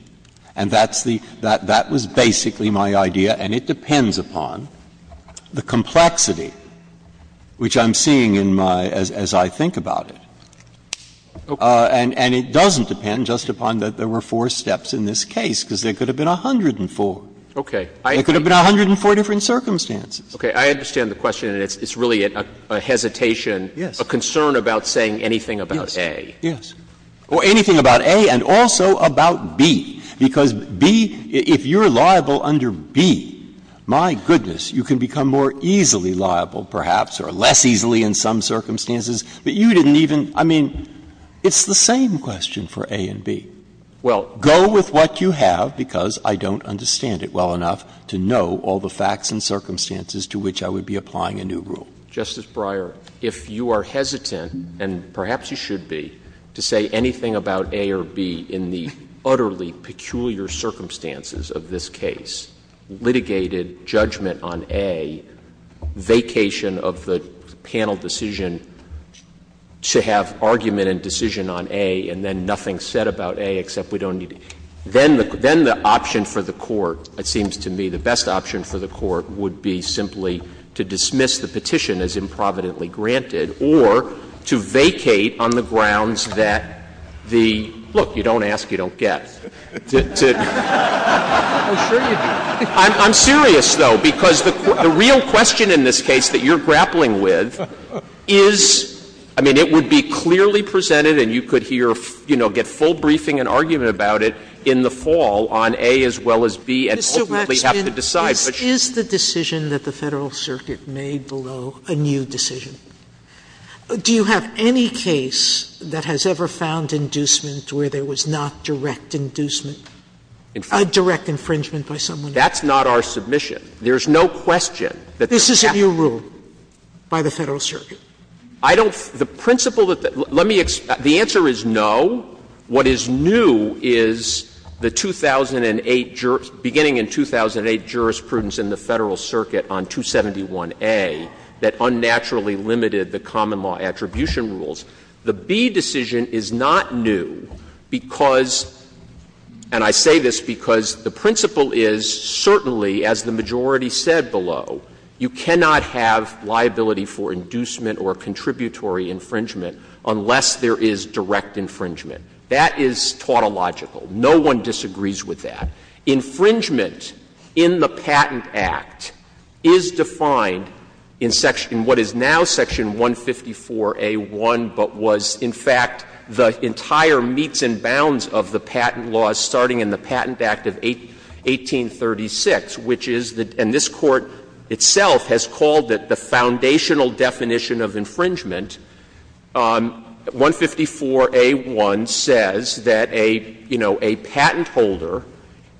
And that's the — that was basically my idea, and it depends upon the complexity, which I'm seeing in my — as I think about it. And it doesn't depend just upon that there were four steps in this case, because there could have been 104. Okay. There could have been 104 different circumstances. Okay. I understand the question, and it's really a hesitation, a concern about saying anything about A. Yes, yes. Or anything about A and also about B, because B — if you're liable under B, my goodness, you can become more easily liable, perhaps, or less easily in some circumstances, but you didn't even — I mean, it's the same question for A and B. Well, go with what you have because I don't understand it well enough to know all the facts and circumstances to which I would be applying a new rule. Justice Breyer, if you are hesitant, and perhaps you should be, to say anything about A or B in the utterly peculiar circumstances of this case, litigated judgment on A, vacation of the panel decision to have argument and decision on A, and then nothing said about A except we don't need to — then the option for the court, it seems to me the best option for the court would be simply to dismiss the petition as improvidently granted or to vacate on the grounds that the — look, you don't ask, you don't get. I'm serious, though, because the real question in this case that you're grappling with is — I mean, it would be clearly presented and you could hear — you know, get full briefing and argument about it in the fall on A as well as B and ultimately have to decide. Sotomayor, this is the decision that the Federal Circuit made below a new decision. Do you have any case that has ever found inducement where there was not direct inducement, direct infringement by someone else? That's not our submission. There's no question that the — This is a new rule by the Federal Circuit. I don't — the principle that — let me — the answer is no. What is new is the 2008 — beginning in 2008 jurisprudence in the Federal Circuit on 271A that unnaturally limited the common law attribution rules. The B decision is not new because — and I say this because the principle is certainly, as the majority said below, you cannot have liability for inducement or contributory infringement unless there is direct infringement. That is tautological. No one disagrees with that. Infringement in the Patent Act is defined in section — in what is now section 154A.1, but was in fact the entire meets and bounds of the patent law starting in the Patent Act of 1836, which is the — and this Court itself has called it the foundational definition of infringement, 154A.1 says that a, you know, a patent holder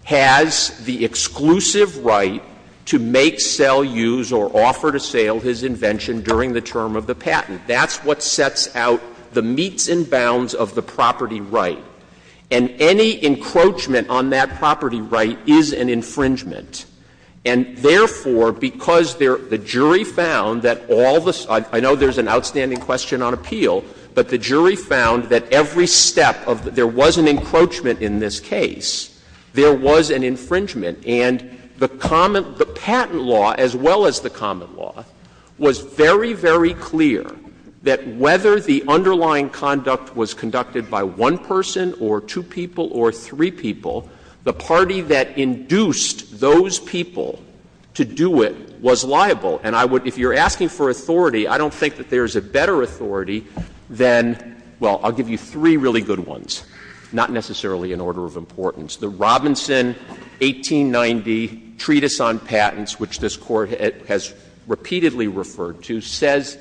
has the exclusive right to make, sell, use, or offer to sale his invention during the term of the patent. That's what sets out the meets and bounds of the property right. And any encroachment on that property right is an infringement. And therefore, because there — the jury found that all the — I know there's an outstanding question on appeal, but the jury found that every step of — there was an encroachment in this case. There was an infringement. And the patent law, as well as the common law, was very, very clear that whether the underlying conduct was conducted by one person or two people or three people, the party that induced those people to do it was liable. And I would — if you're asking for authority, I don't think that there's a better authority than — well, I'll give you three really good ones, not necessarily in order of importance. The Robinson 1890 Treatise on Patents, which this Court has repeatedly referred to, says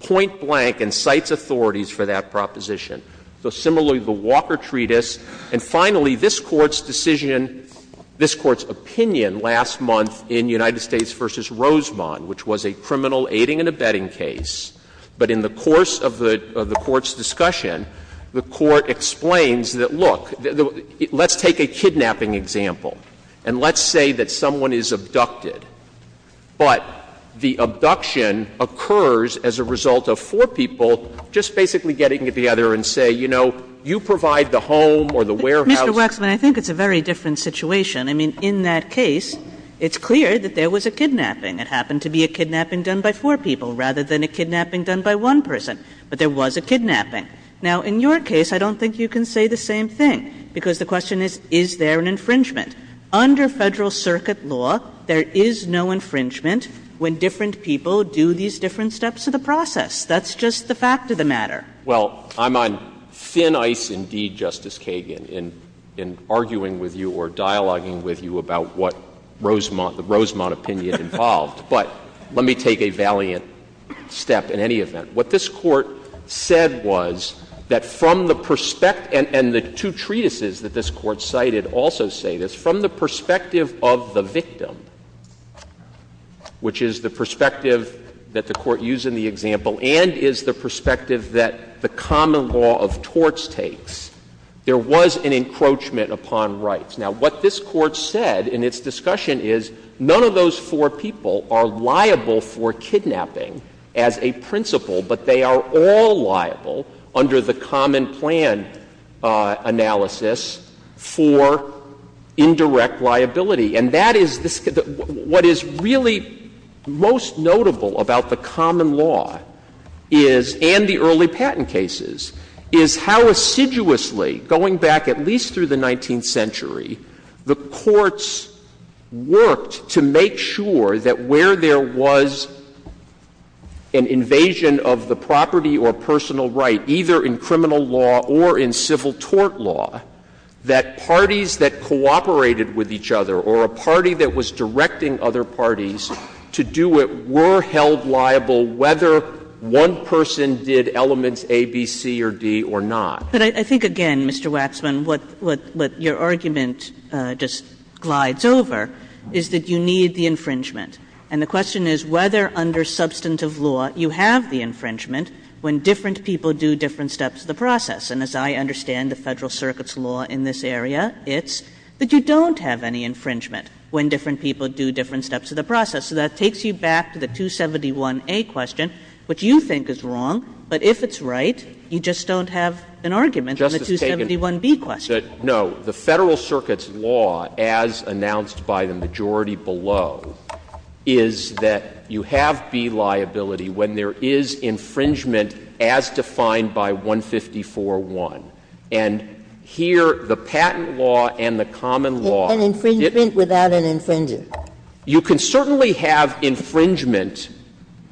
point blank and cites authorities for that proposition. So similarly, the Walker Treatise. And finally, this Court's decision — this Court's opinion last month in United States v. Rosemont, which was a criminal aiding and abetting case. But in the course of the Court's discussion, the Court explains that, look, let's take a kidnapping example, and let's say that someone is abducted. But the abduction occurs as a result of four people just basically getting together and say, you know, you provide the home or the warehouse. Kagan. Mr. Wexman, I think it's a very different situation. I mean, in that case, it's clear that there was a kidnapping. It happened to be a kidnapping done by four people rather than a kidnapping done by one person. But there was a kidnapping. Now, in your case, I don't think you can say the same thing, because the question is, is there an infringement? Under Federal Circuit law, there is no infringement when different people do these different steps of the process. That's just the fact of the matter. Well, I'm on thin ice indeed, Justice Kagan, in arguing with you or dialoguing with you about what Rosemont, the Rosemont opinion involved. But let me take a valiant step in any event. What this Court said was that from the perspective — and the two treatises that this Court cited also say this — from the perspective of the victim, which is the perspective that the Court used in the example and is the perspective that the common law of torts takes, there was an encroachment upon rights. Now, what this Court said in its discussion is none of those four people are liable for kidnapping as a principle, but they are all liable under the common plan analysis for indirect liability. And that is — what is really most notable about the common law is — and the early patent cases — is how assiduously, going back at least through the 19th century, the courts worked to make sure that where there was an invasion of the property or personal right, either in criminal law or in civil tort law, that parties that cooperated with each other or a party that was directing other parties to do it were held liable whether one person did elements A, B, C, or D or not. Kagan. But I think, again, Mr. Waxman, what your argument just glides over is that you need the infringement. And the question is whether under substantive law you have the infringement when different people do different steps of the process. And as I understand the Federal Circuit's law in this area, it's that you don't have any infringement when different people do different steps of the process. So that takes you back to the 271A question, which you think is wrong, but if it's right, you just don't have an argument on the 271B question. Waxman. No. The Federal Circuit's law, as announced by the majority below, is that you have B liability when there is infringement as defined by 154.1. And here, the patent law and the common law didn't — An infringement without an infringer. You can certainly have infringement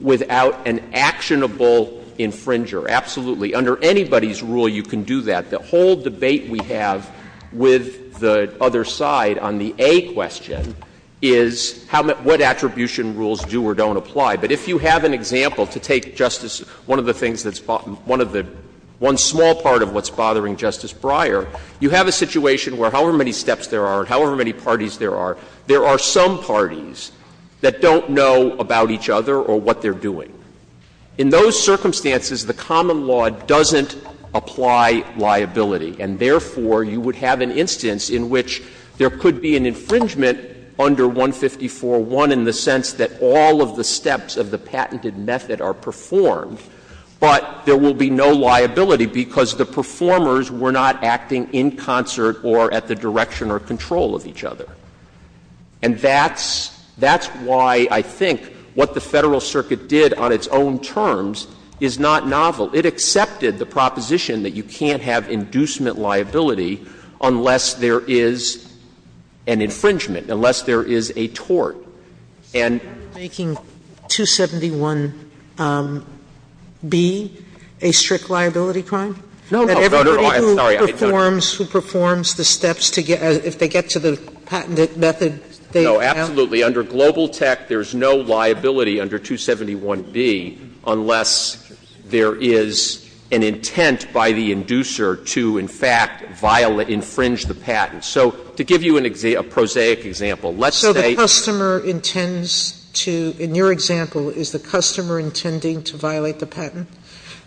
without an actionable infringer, absolutely. Under anybody's rule, you can do that. The whole debate we have with the other side on the A question is how — what attribution rules do or don't apply. But if you have an example, to take, Justice, one of the things that's — one of the — one small part of what's bothering Justice Breyer, you have a situation where however many steps there are and however many parties there are, there are some parties that don't know about each other or what they're doing. In those circumstances, the common law doesn't apply liability, and therefore, you would have an instance in which there could be an infringement under 154.1 in the patented method are performed, but there will be no liability because the performers were not acting in concert or at the direction or control of each other. And that's — that's why I think what the Federal Circuit did on its own terms is not novel. It accepted the proposition that you can't have inducement liability unless there is an infringement, unless there is a tort. And — Sotomayor, making 271B a strict liability crime? No. No, no, no. I'm sorry. I don't — Everybody who performs — who performs the steps to get — if they get to the patented method, they have — No, absolutely. Under Global Tech, there's no liability under 271B unless there is an intent by the inducer to, in fact, violate — infringe the patent. So to give you an — a prosaic example, let's say — The inducer intends to — in your example, is the customer intending to violate the patent?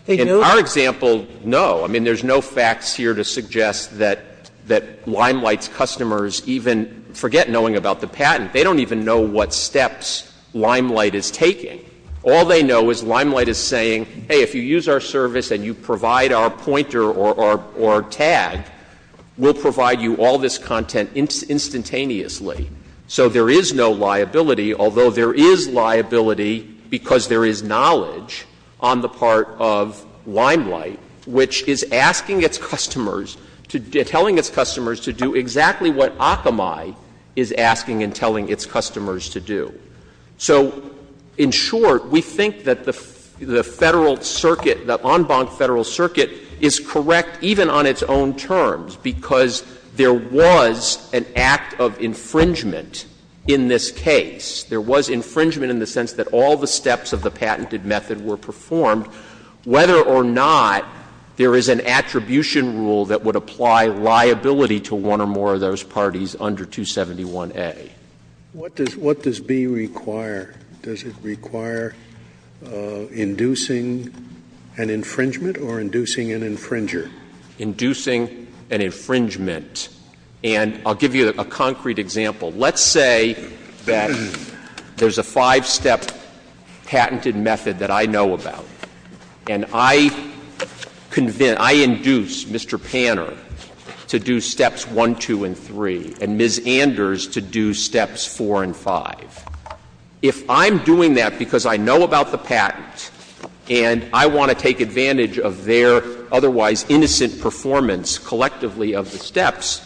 They do? In our example, no. I mean, there's no facts here to suggest that — that Limelight's customers even forget knowing about the patent. They don't even know what steps Limelight is taking. All they know is Limelight is saying, hey, if you use our service and you provide our pointer or — or tag, we'll provide you all this content instantaneously. So there is no liability, although there is liability because there is knowledge on the part of Limelight, which is asking its customers to — telling its customers to do exactly what Akamai is asking and telling its customers to do. So in short, we think that the Federal Circuit, the en banc Federal Circuit, is correct even on its own terms, because there was an act of infringement in this case. There was infringement in the sense that all the steps of the patented method were performed, whether or not there is an attribution rule that would apply liability to one or more of those parties under 271A. What does — what does B require? Does it require inducing an infringement or inducing an infringer? Inducing an infringement. And I'll give you a concrete example. Let's say that there's a five-step patented method that I know about, and I convince — I induce Mr. Panner to do steps 1, 2, and 3, and Ms. Anders to do steps 4 and 5. If I'm doing that because I know about the patent and I want to take advantage of their otherwise innocent performance collectively of the steps,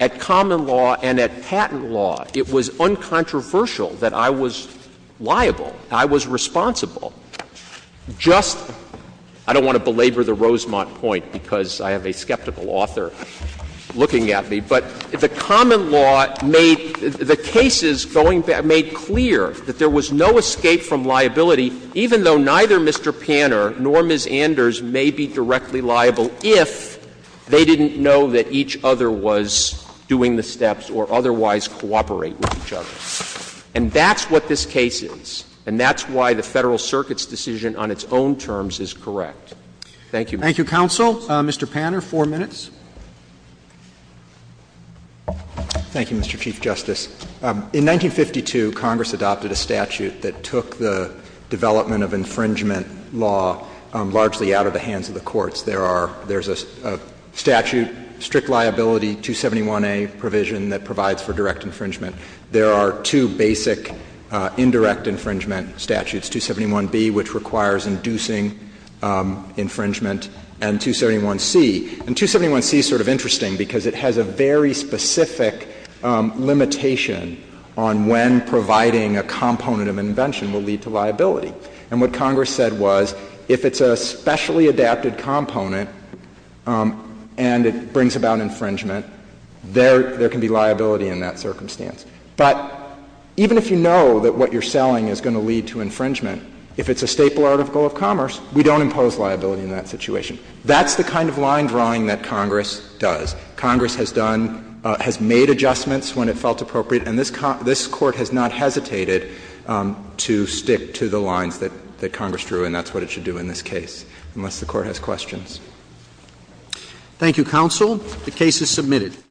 at common law and at patent law, it was uncontroversial that I was liable, I was responsible. Just — I don't want to belabor the Rosemont point because I have a skeptical author looking at me, but the common law made — the cases going back made clear that there was no escape from liability, even though neither Mr. Panner nor Ms. Anders may be directly liable if they didn't know that each other was doing the steps or otherwise cooperate with each other. And that's what this case is, and that's why the Federal Circuit's decision on its own terms is correct. Thank you. Roberts. Thank you, counsel. Mr. Panner, 4 minutes. Thank you, Mr. Chief Justice. In 1952, Congress adopted a statute that took the development of infringement law largely out of the hands of the courts. There are — there's a statute, strict liability, 271A provision that provides for direct infringement. There are two basic indirect infringement statutes, 271B, which requires inducing infringement, and 271C. And 271C is sort of interesting because it has a very specific limitation on when providing a component of an invention will lead to liability. And what Congress said was if it's a specially adapted component and it brings about infringement, there can be liability in that circumstance. But even if you know that what you're selling is going to lead to infringement, if it's a staple article of commerce, we don't impose liability in that situation. That's the kind of line drawing that Congress does. Congress has done — has made adjustments when it felt appropriate, and this Court has not hesitated to stick to the lines that Congress drew, and that's what it should do in this case, unless the Court has questions. Thank you, counsel. The case is submitted.